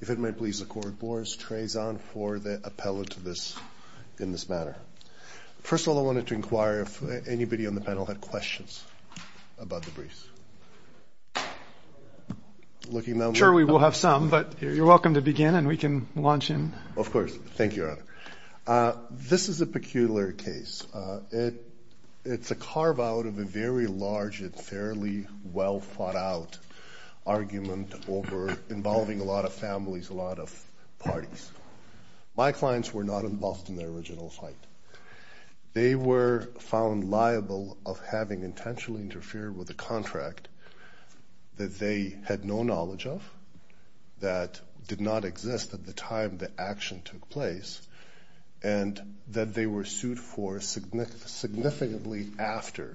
If it may please the Court, Boris Trezon for the appellate in this matter. First of all, I wanted to inquire if anybody on the panel had questions about the briefs. Sure, we will have some, but you're welcome to begin and we can launch in. This is a peculiar case. It's a carve-out of a very large and fairly well-thought-out argument involving a lot of families, a lot of parties. My clients were not involved in the original fight. They were found liable of having intentionally interfered with a contract that they had no knowledge of, that did not exist at the time the action took place, and that they were sued for significantly after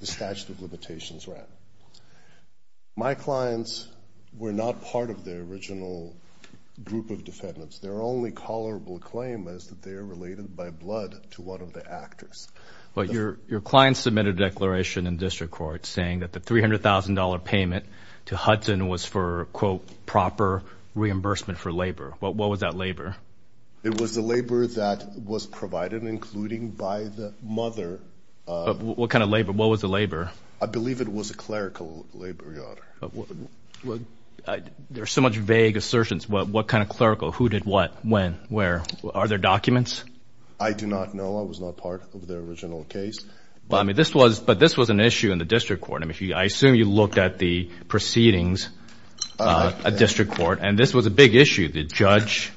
the statute of limitations ran. My clients were not part of the original group of defendants. Their only tolerable claim is that they are related by blood to one of the actors. But your clients submitted a declaration in district court saying that the $300,000 payment to Hudson was for, quote, proper reimbursement for labor. What was that labor? It was the labor that was provided, including by the mother. What kind of labor? What was the labor? I believe it was a clerical labor, Your Honor. There are so much vague assertions. What kind of clerical? Who did what? When? Where? Are there documents? I do not know. I was not part of the original case. But this was an issue in the district court. I assume you looked at the proceedings in the district court, and this was a big issue. The judge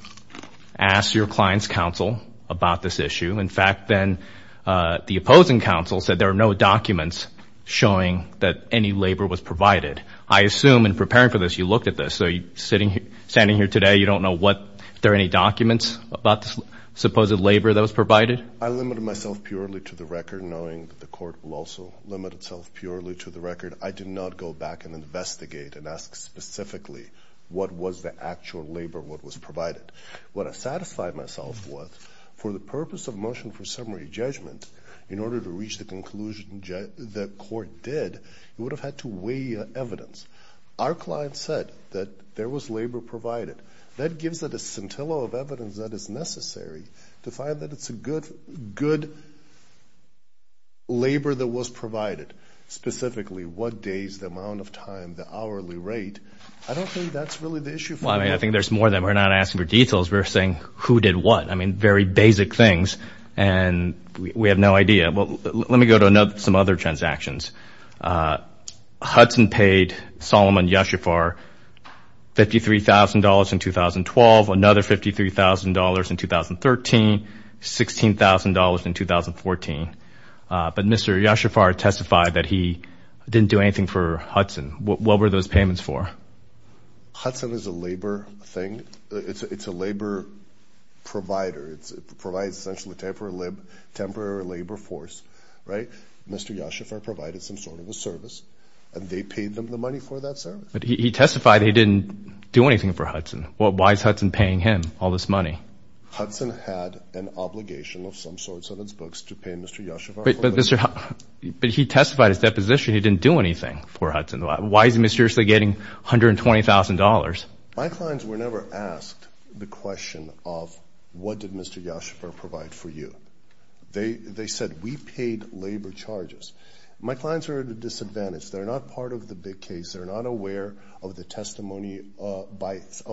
asked your client's counsel about this issue. In fact, then the opposing counsel said there are no documents showing that any labor was provided. I assume in preparing for this you looked at this. So standing here today, you don't know if there are any documents about the supposed labor that was provided? I limited myself purely to the record, knowing that the court will also limit itself purely to the record. I did not go back and investigate and ask specifically what was the actual labor that was provided. What I satisfied myself with, for the purpose of motion for summary judgment, in order to reach the conclusion that the court did, it would have had to weigh evidence. Our client said that there was labor provided. That gives it a scintillo of evidence that is necessary to find that it's a good labor that was provided, specifically what days, the amount of time, the hourly rate. I don't think that's really the issue. Well, I mean, I think there's more than we're not asking for details. We're saying who did what. I mean, very basic things, and we have no idea. Let me go to some other transactions. Hudson paid Solomon Yashifar $53,000 in 2012, another $53,000 in 2013, $16,000 in 2014. But Mr. Yashifar testified that he didn't do anything for Hudson. What were those payments for? Hudson is a labor thing. It's a labor provider. It provides essentially temporary labor force, right? Mr. Yashifar provided some sort of a service, and they paid them the money for that service. But he testified he didn't do anything for Hudson. Why is Hudson paying him all this money? Hudson had an obligation of some sort on its books to pay Mr. Yashifar. But he testified his deposition he didn't do anything for Hudson. Why is he mysteriously getting $120,000? My clients were never asked the question of what did Mr. Yashifar provide for you. They said, we paid labor charges. My clients are at a disadvantage. They're not part of the big case. They're not aware of the testimony of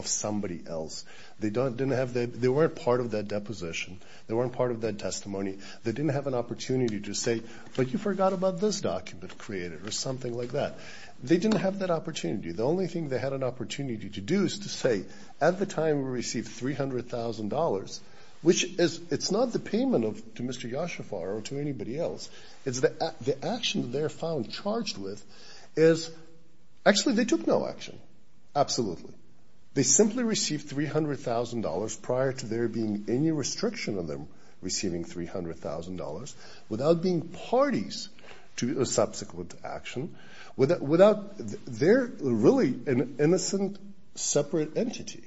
somebody else. They weren't part of that deposition. They weren't part of that testimony. They didn't have an opportunity to say, but you forgot about this document created or something like that. They didn't have that opportunity. The only thing they had an opportunity to do is to say, at the time we received $300,000, which is, it's not the payment to Mr. Yashifar or to anybody else. It's the action they're found charged with is, actually, they took no action, absolutely. They simply received $300,000 prior to there being any restriction on them receiving $300,000 without being parties to a subsequent action, without, they're really an innocent separate entity.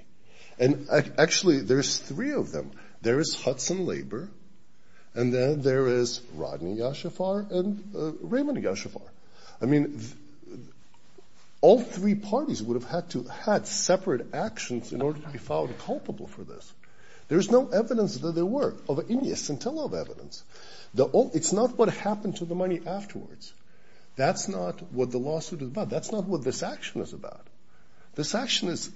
And, actually, there's three of them. There is Hudson Labor, and then there is Rodney Yashifar and Raymond Yashifar. I mean, all three parties would have had to have had separate actions in order to be found culpable for this. There's no evidence that there were of any scintilla evidence. It's not what happened to the money afterwards. That's not what the lawsuit is about. That's not what this action is about. This action is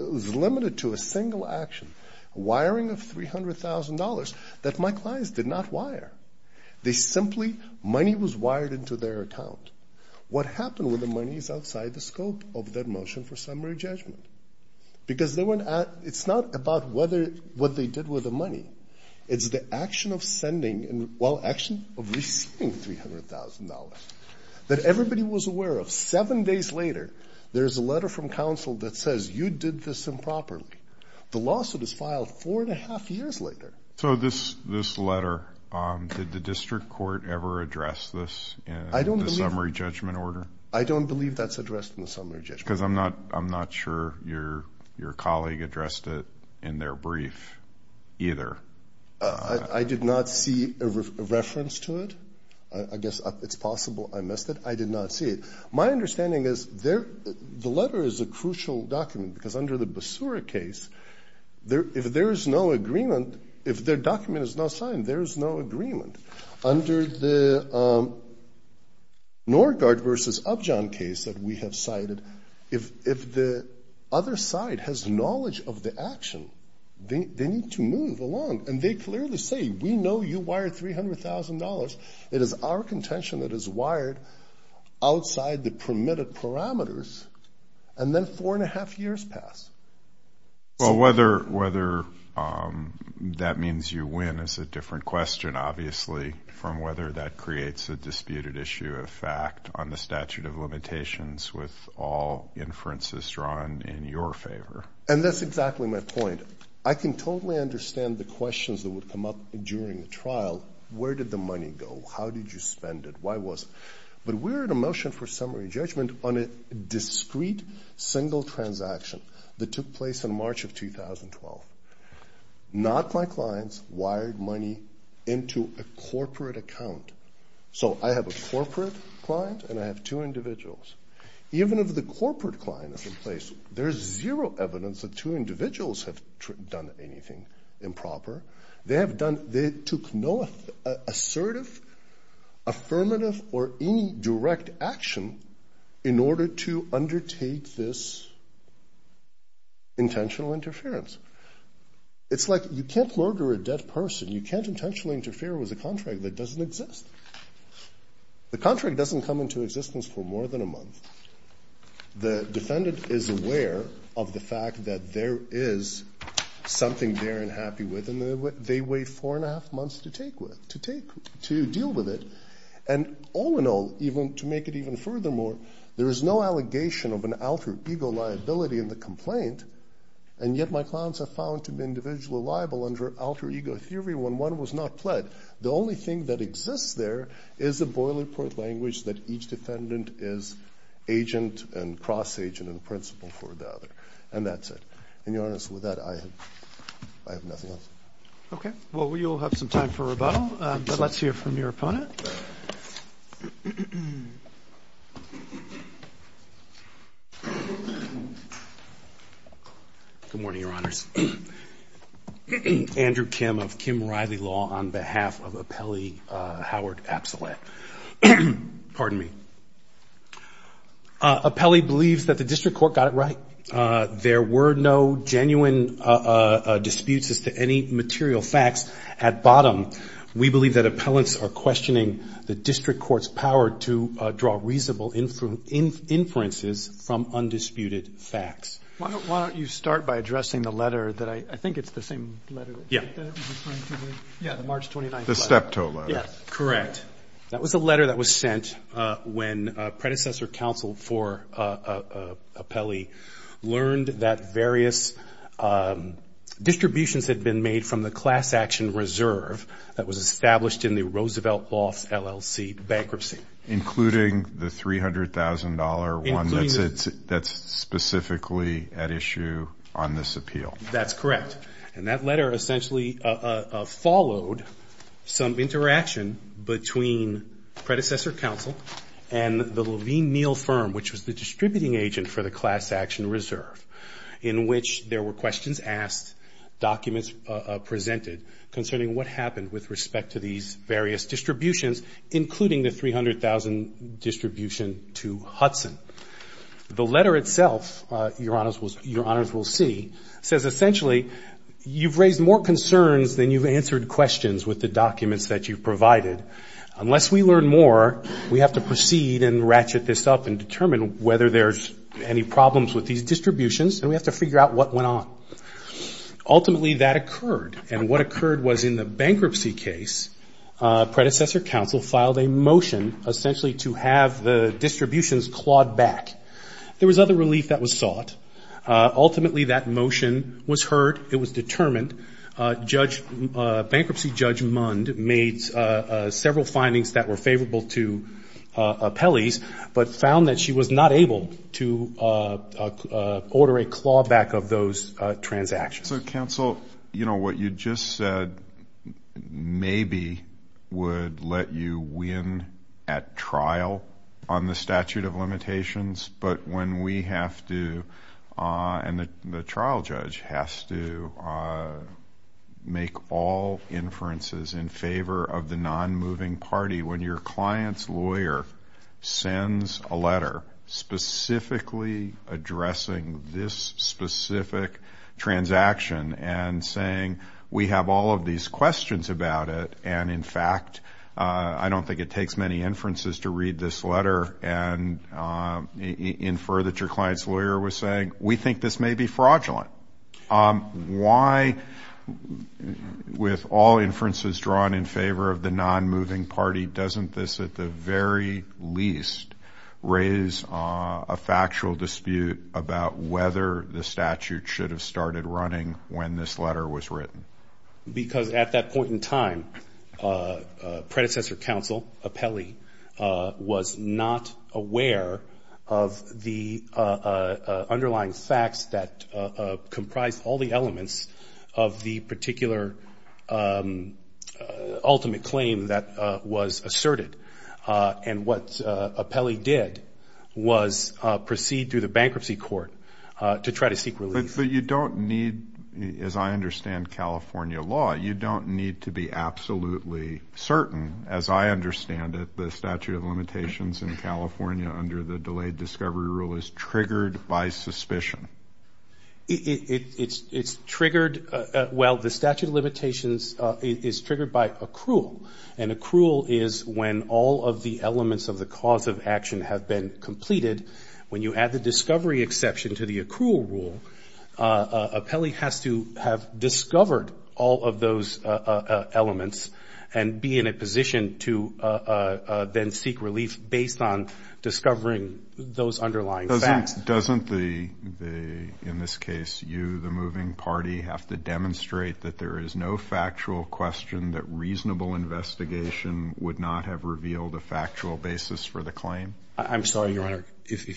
limited to a single action, wiring of $300,000 that my clients did not wire. They simply, money was wired into their account. What happened with the money is outside the scope of their motion for summary judgment because it's not about what they did with the money. It's the action of sending, well, action of receiving $300,000 that everybody was aware of. Seven days later, there's a letter from counsel that says you did this improperly. The lawsuit is filed four and a half years later. So this letter, did the district court ever address this in the summary judgment order? I don't believe that's addressed in the summary judgment. Because I'm not sure your colleague addressed it in their brief either. I did not see a reference to it. I guess it's possible I missed it. I did not see it. My understanding is the letter is a crucial document because under the Basura case, if there is no agreement, if their document is not signed, there is no agreement. Under the Norgaard versus Upjohn case that we have cited, if the other side has knowledge of the action, they need to move along. And they clearly say, we know you wired $300,000. It is our contention that it's wired outside the permitted parameters, and then four and a half years pass. Well, whether that means you win is a different question, obviously, from whether that creates a disputed issue of fact on the statute of limitations with all inferences drawn in your favor. And that's exactly my point. Well, where did the money go? How did you spend it? Why was it? But we're in a motion for summary judgment on a discrete single transaction that took place in March of 2012. Not my clients wired money into a corporate account. So I have a corporate client and I have two individuals. Even if the corporate client is in place, there is zero evidence that two individuals have done anything improper. They took no assertive, affirmative, or any direct action in order to undertake this intentional interference. It's like you can't murder a dead person. You can't intentionally interfere with a contract that doesn't exist. The contract doesn't come into existence for more than a month. The defendant is aware of the fact that there is something they're unhappy with, and they wait four and a half months to deal with it. And all in all, to make it even furthermore, there is no allegation of an alter ego liability in the complaint, and yet my clients have found to be individually liable under alter ego theory when one was not pled. The only thing that exists there is a boilerplate language that each defendant is agent and cross-agent in principle for the other. And that's it. In all honesty with that, I have nothing else. Okay. Well, you'll have some time for rebuttal, but let's hear from your opponent. Good morning, Your Honors. Andrew Kim of Kim Riley Law on behalf of appellee Howard Absolette. Pardon me. Appellee believes that the district court got it right. There were no genuine disputes as to any material facts. At bottom, we believe that appellants are questioning the district court's power to draw reasonable inferences from undisputed facts. Why don't you start by addressing the letter that I think it's the same letter. Yeah. The March 29th letter. The Steptoe letter. Yes, correct. That was the letter that was sent when predecessor counsel for appellee learned that various distributions had been made from the class action reserve that was established in the Roosevelt Lofts LLC bankruptcy. Including the $300,000 one that's specifically at issue on this appeal. That's correct. And that letter essentially followed some interaction between predecessor counsel and the Levine Neal firm, which was the distributing agent for the class action reserve, in which there were questions asked, documents presented concerning what happened with respect to these various distributions, including the $300,000 distribution to Hudson. The letter itself, your honors will see, says essentially, you've raised more concerns than you've answered questions with the documents that you've provided. Unless we learn more, we have to proceed and ratchet this up and determine whether there's any problems with these distributions, and we have to figure out what went on. Ultimately, that occurred. And what occurred was in the bankruptcy case, predecessor counsel filed a motion essentially to have the distributions clawed back. There was other relief that was sought. Ultimately, that motion was heard. It was determined. Bankruptcy Judge Mund made several findings that were favorable to appellees, but found that she was not able to order a clawback of those transactions. So, counsel, you know, what you just said maybe would let you win at trial on the statute of limitations, but when we have to, and the trial judge has to make all inferences in favor of the non-moving party. When your client's lawyer sends a letter specifically addressing this specific transaction and saying we have all of these questions about it, and in fact I don't think it takes many inferences to read this letter and infer that your client's lawyer was saying we think this may be fraudulent. Why, with all inferences drawn in favor of the non-moving party, doesn't this at the very least raise a factual dispute about whether the statute should have started running when this letter was written? Because at that point in time, predecessor counsel, appellee, was not aware of the underlying facts that comprised all the elements of the particular ultimate claim that was asserted. And what appellee did was proceed to the bankruptcy court to try to seek relief. But you don't need, as I understand California law, you don't need to be absolutely certain, as I understand it, the statute of limitations in California under the delayed discovery rule is triggered by suspicion. It's triggered, well, the statute of limitations is triggered by accrual, and accrual is when all of the elements of the cause of action have been completed. When you add the discovery exception to the accrual rule, appellee has to have discovered all of those elements and be in a position to then seek relief based on discovering those underlying facts. Doesn't the, in this case, you, the moving party, have to demonstrate that there is no factual question that reasonable investigation would not have revealed a factual basis for the claim? I'm sorry, Your Honor.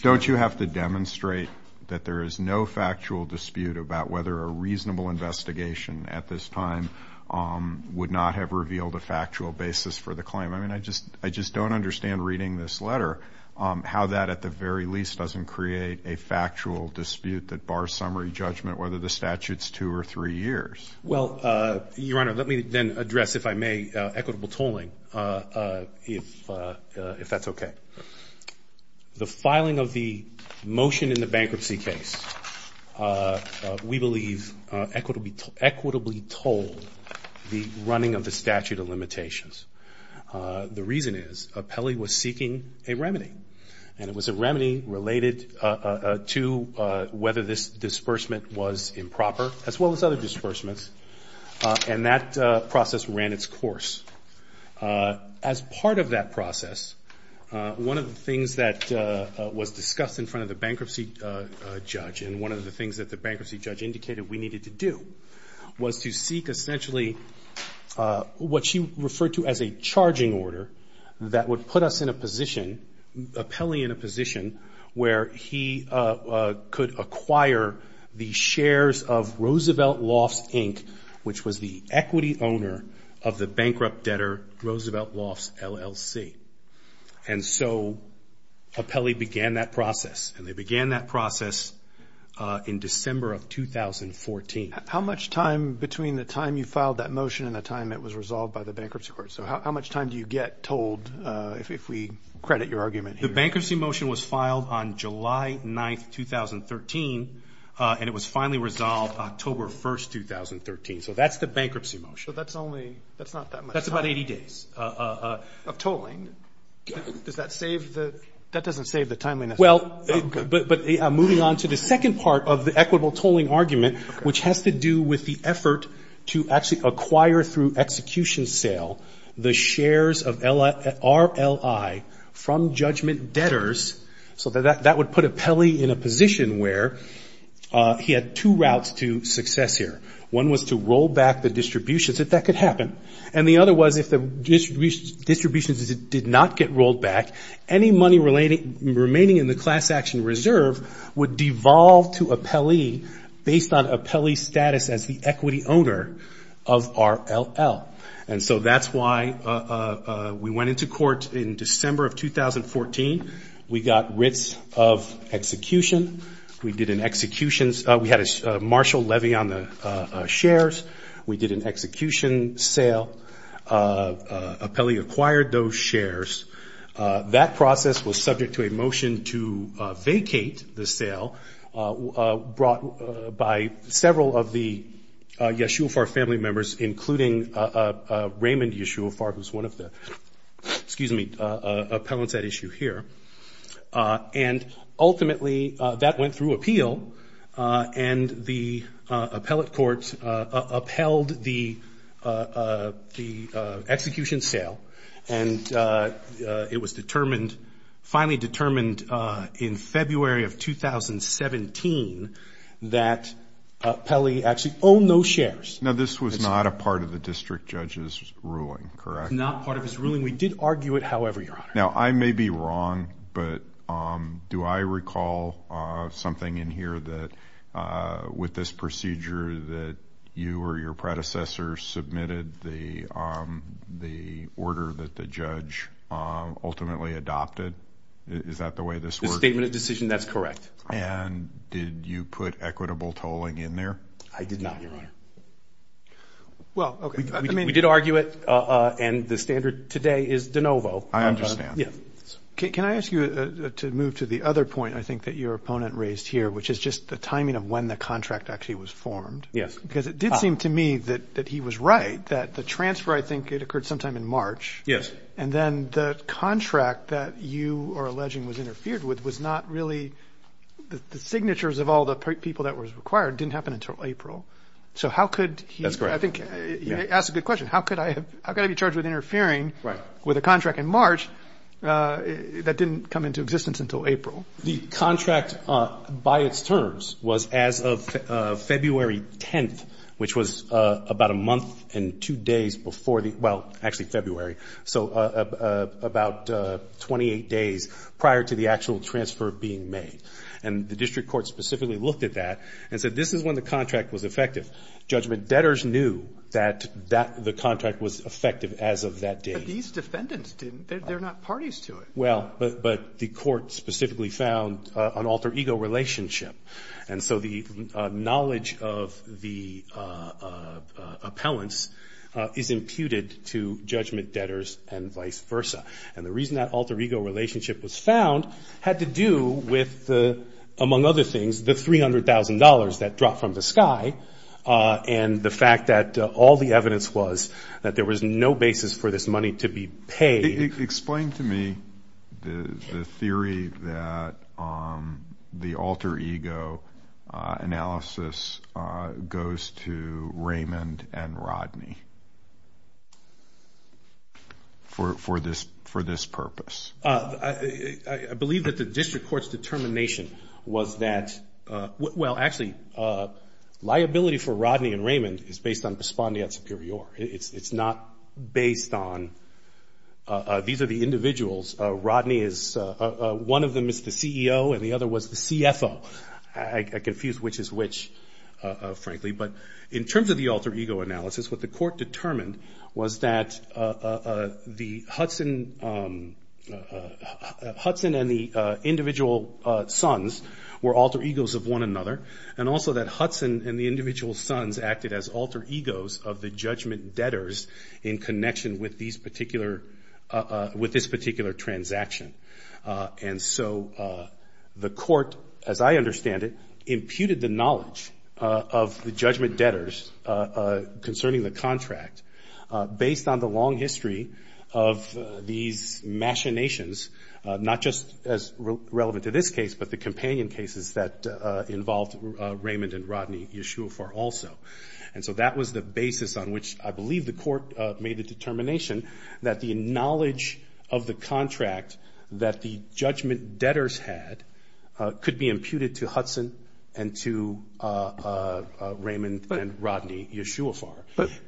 Don't you have to demonstrate that there is no factual dispute about whether a reasonable investigation at this time would not have revealed a factual basis for the claim? I mean, I just don't understand, reading this letter, how that at the very least doesn't create a factual dispute that bars summary judgment, whether the statute's two or three years. Well, Your Honor, let me then address, if I may, equitable tolling, if that's okay. The filing of the motion in the bankruptcy case, we believe, equitably tolled the running of the statute of limitations. The reason is appellee was seeking a remedy, and it was a remedy related to whether this disbursement was improper, as well as other disbursements, and that process ran its course. As part of that process, one of the things that was discussed in front of the bankruptcy judge and one of the things that the bankruptcy judge indicated we needed to do was to seek essentially what she referred to as a charging order that would put us in a position, appellee in a position where he could acquire the shares of Roosevelt Lofts, Inc., which was the equity owner of the bankrupt debtor Roosevelt Lofts, LLC. And so appellee began that process, and they began that process in December of 2014. How much time between the time you filed that motion and the time it was resolved by the bankruptcy court? So how much time do you get tolled, if we credit your argument here? The bankruptcy motion was filed on July 9, 2013, and it was finally resolved October 1, 2013. So that's the bankruptcy motion. So that's only, that's not that much time. That's about 80 days of tolling. Does that save the, that doesn't save the timeliness. Well, but moving on to the second part of the equitable tolling argument, which has to do with the effort to actually acquire through execution sale the shares of RLI from judgment debtors. So that would put appellee in a position where he had two routes to success here. One was to roll back the distributions, if that could happen. And the other was if the distributions did not get rolled back, any money remaining in the class action reserve would devolve to appellee based on appellee status as the equity owner of RLL. And so that's why we went into court in December of 2014. We got writs of execution. We did an execution. We had a martial levy on the shares. We did an execution sale. Appellee acquired those shares. That process was subject to a motion to vacate the sale brought by several of the Yeshua Farr family members, including Raymond Yeshua Farr, who's one of the, excuse me, appellants at issue here. And ultimately, that went through appeal, and the appellate courts upheld the execution sale. And it was determined, finally determined in February of 2017, that appellee actually owned those shares. Now, this was not a part of the district judge's ruling, correct? Not part of his ruling. Now, I may be wrong, but do I recall something in here that, with this procedure, that you or your predecessor submitted the order that the judge ultimately adopted? Is that the way this works? The statement of decision, that's correct. And did you put equitable tolling in there? I did not, Your Honor. Well, okay. We did argue it, and the standard today is de novo. I understand. Yeah. Can I ask you to move to the other point, I think, that your opponent raised here, which is just the timing of when the contract actually was formed? Yes. Because it did seem to me that he was right, that the transfer, I think, it occurred sometime in March. Yes. And then the contract that you are alleging was interfered with was not really the signatures of all the people that were required. It didn't happen until April. So how could he? That's correct. I think you asked a good question. How could I be charged with interfering with a contract in March that didn't come into existence until April? The contract by its terms was as of February 10th, which was about a month and two days before the ‑‑ well, actually February, so about 28 days prior to the actual transfer being made. And the district court specifically looked at that and said this is when the contract was effective. Judgment debtors knew that the contract was effective as of that date. But these defendants didn't. They're not parties to it. Well, but the court specifically found an alter ego relationship. And so the knowledge of the appellants is imputed to judgment debtors and vice versa. And the reason that alter ego relationship was found had to do with, among other things, the $300,000 that dropped from the sky and the fact that all the evidence was that there was no basis for this money to be paid. Explain to me the theory that the alter ego analysis goes to Raymond and Rodney for this purpose. I believe that the district court's determination was that ‑‑ well, actually, liability for Rodney and Raymond is based on pospondiat superior. It's not based on these are the individuals. Rodney is ‑‑ one of them is the CEO and the other was the CFO. I confuse which is which, frankly. But in terms of the alter ego analysis, what the court determined was that the Hudson and the individual sons were alter egos of one another. And also that Hudson and the individual sons acted as alter egos of the judgment debtors in connection with these particular ‑‑ with this particular transaction. And so the court, as I understand it, imputed the knowledge of the judgment debtors concerning the contract, based on the long history of these machinations, not just as relevant to this case, but the companion cases that involved Raymond and Rodney Yeshua for also. And so that was the basis on which I believe the court made the determination that the knowledge of the contract that the judgment debtors had could be imputed to Hudson and to Raymond and Rodney Yeshua for.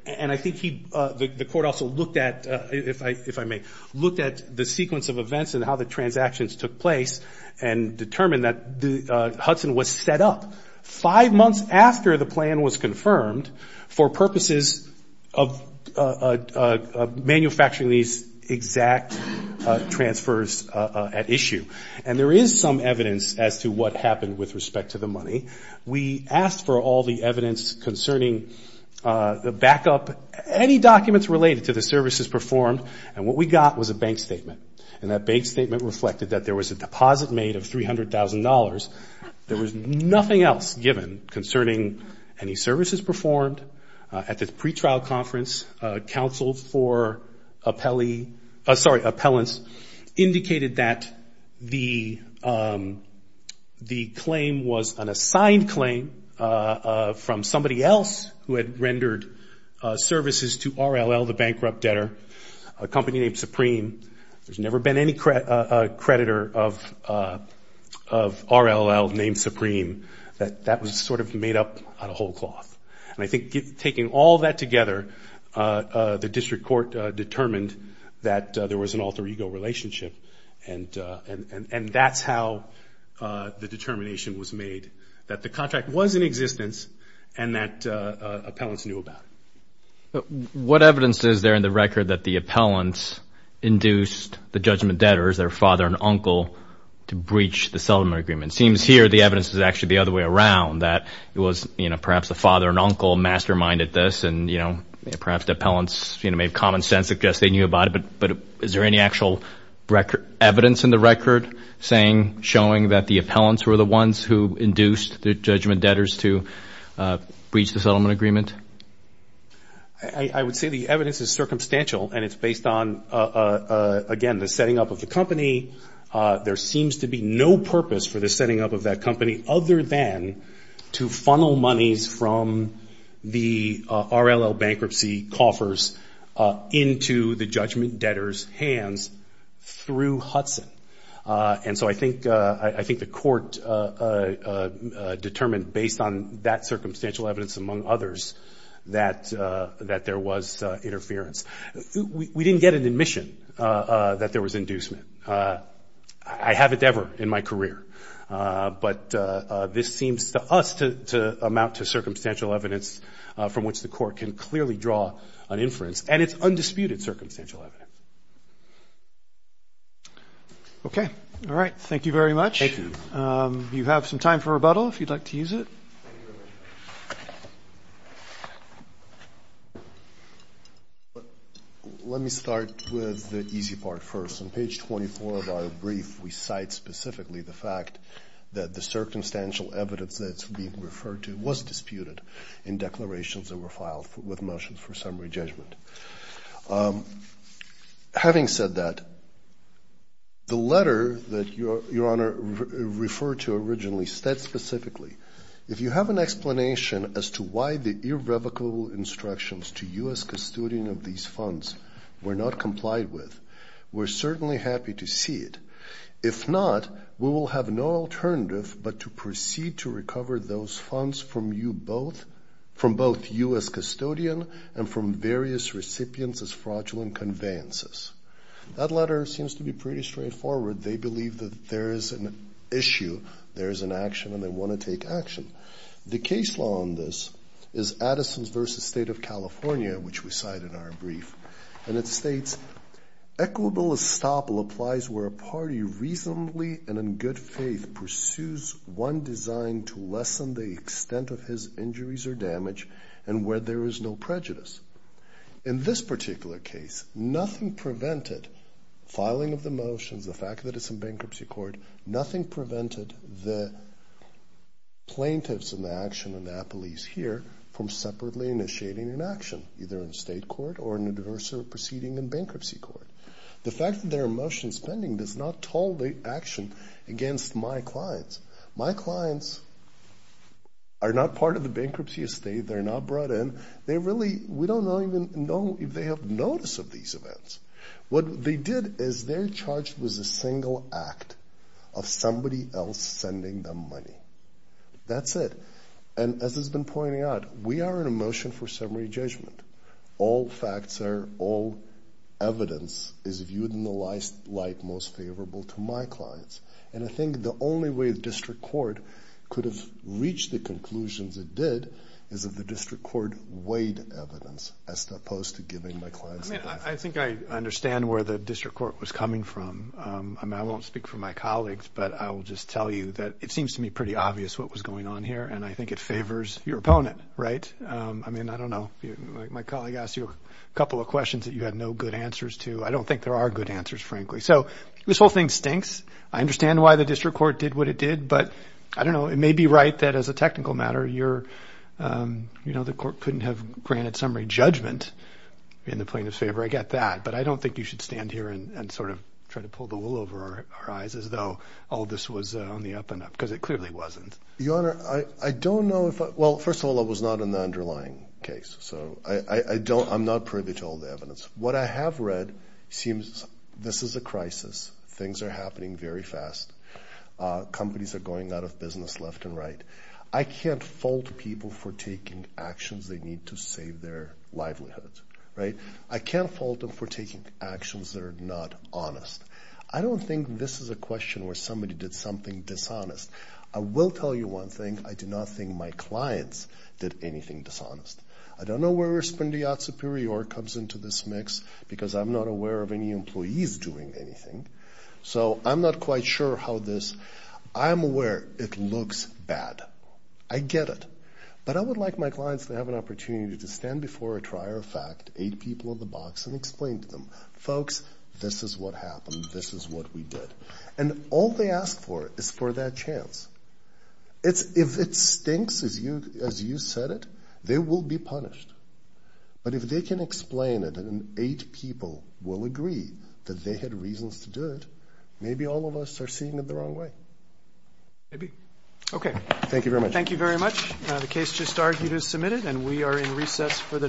And I think the court also looked at, if I may, looked at the sequence of events and how the transactions took place and determined that Hudson was set up. Five months after the plan was confirmed for purposes of manufacturing these exact transfers at issue. And there is some evidence as to what happened with respect to the money. We asked for all the evidence concerning the backup, any documents related to the services performed, and what we got was a bank statement. And that bank statement reflected that there was a deposit made of $300,000. There was nothing else given concerning any services performed. At the pretrial conference, counsel for appellants indicated that the claim was an assigned claim from somebody else who had rendered services to RLL, the bankrupt debtor, a company named Supreme. There's never been any creditor of RLL named Supreme. That was sort of made up out of whole cloth. And I think taking all that together, the district court determined that there was an alter ego relationship, and that's how the determination was made that the contract was in existence and that appellants knew about it. What evidence is there in the record that the appellants induced the judgment debtors, their father and uncle, to breach the settlement agreement? It seems here the evidence is actually the other way around, that it was perhaps the father and uncle masterminded this, and perhaps the appellants made common sense suggesting they knew about it. But is there any actual evidence in the record showing that the appellants were the ones who induced the judgment debtors to breach the settlement agreement? I would say the evidence is circumstantial, and it's based on, again, the setting up of the company. There seems to be no purpose for the setting up of that company other than to funnel monies from the RLL bankruptcy coffers into the judgment debtors' hands through Hudson. And so I think the court determined, based on that circumstantial evidence among others, that there was interference. We didn't get an admission that there was inducement. I haven't ever in my career. But this seems to us to amount to circumstantial evidence from which the court can clearly draw an inference, and it's undisputed circumstantial evidence. Okay. All right. Thank you very much. Thank you. You have some time for rebuttal, if you'd like to use it. Let me start with the easy part first. On page 24 of our brief, we cite specifically the fact that the circumstantial evidence that's being referred to was disputed in declarations that were filed with motions for summary judgment. Having said that, the letter that Your Honor referred to originally states specifically, if you have an explanation as to why the irrevocable instructions to you as custodian of these funds were not complied with, we're certainly happy to see it. If not, we will have no alternative but to proceed to recover those funds from you both, from both you as custodian and from various recipients as fraudulent conveyances. That letter seems to be pretty straightforward. They believe that there is an issue, there is an action, and they want to take action. The case law on this is Addison v. State of California, which we cite in our brief, and it states, equitable estoppel applies where a party reasonably and in good faith pursues one designed to lessen the extent of his injuries or damage and where there is no prejudice. In this particular case, nothing prevented filing of the motions, the fact that it's in bankruptcy court, nothing prevented the plaintiffs in the action and the police here from separately initiating an action, either in state court or in a diverse proceeding in bankruptcy court. The fact that there are motions pending does not toll the action against my clients. My clients are not part of the bankruptcy estate. They're not brought in. They really, we don't even know if they have notice of these events. What they did is they're charged with a single act of somebody else sending them money. That's it. And as has been pointed out, we are in a motion for summary judgment. All facts are all evidence is viewed in the light most favorable to my clients. And I think the only way the district court could have reached the conclusions it did is if the district court weighed evidence as opposed to giving my clients advice. I think I understand where the district court was coming from. I won't speak for my colleagues, but I will just tell you that it seems to me pretty obvious what was going on here, and I think it favors your opponent, right? I mean, I don't know. My colleague asked you a couple of questions that you had no good answers to. I don't think there are good answers, frankly. So this whole thing stinks. I understand why the district court did what it did, but I don't know. It may be right that as a technical matter, you're, you know, the court couldn't have granted summary judgment in the plaintiff's favor. I get that, but I don't think you should stand here and sort of try to pull the wool over our eyes as though all this was on the up and up because it clearly wasn't. Your Honor, I don't know if I – well, first of all, I was not in the underlying case, so I'm not privy to all the evidence. What I have read seems this is a crisis. Things are happening very fast. Companies are going out of business left and right. I can't fault people for taking actions they need to save their livelihoods, right? I can't fault them for taking actions that are not honest. I don't think this is a question where somebody did something dishonest. I will tell you one thing. I do not think my clients did anything dishonest. I don't know where Espendia Superior comes into this mix because I'm not aware of any employees doing anything. So I'm not quite sure how this – I'm aware it looks bad. I get it. But I would like my clients to have an opportunity to stand before a trier of fact, eight people in the box, and explain to them, folks, this is what happened, this is what we did. And all they ask for is for that chance. If it stinks, as you said it, they will be punished. But if they can explain it and eight people will agree that they had reasons to do it, maybe all of us are seeing it the wrong way. Maybe. Okay. Thank you very much. Thank you very much. The case just argued is submitted, and we are in recess for the day. All rise.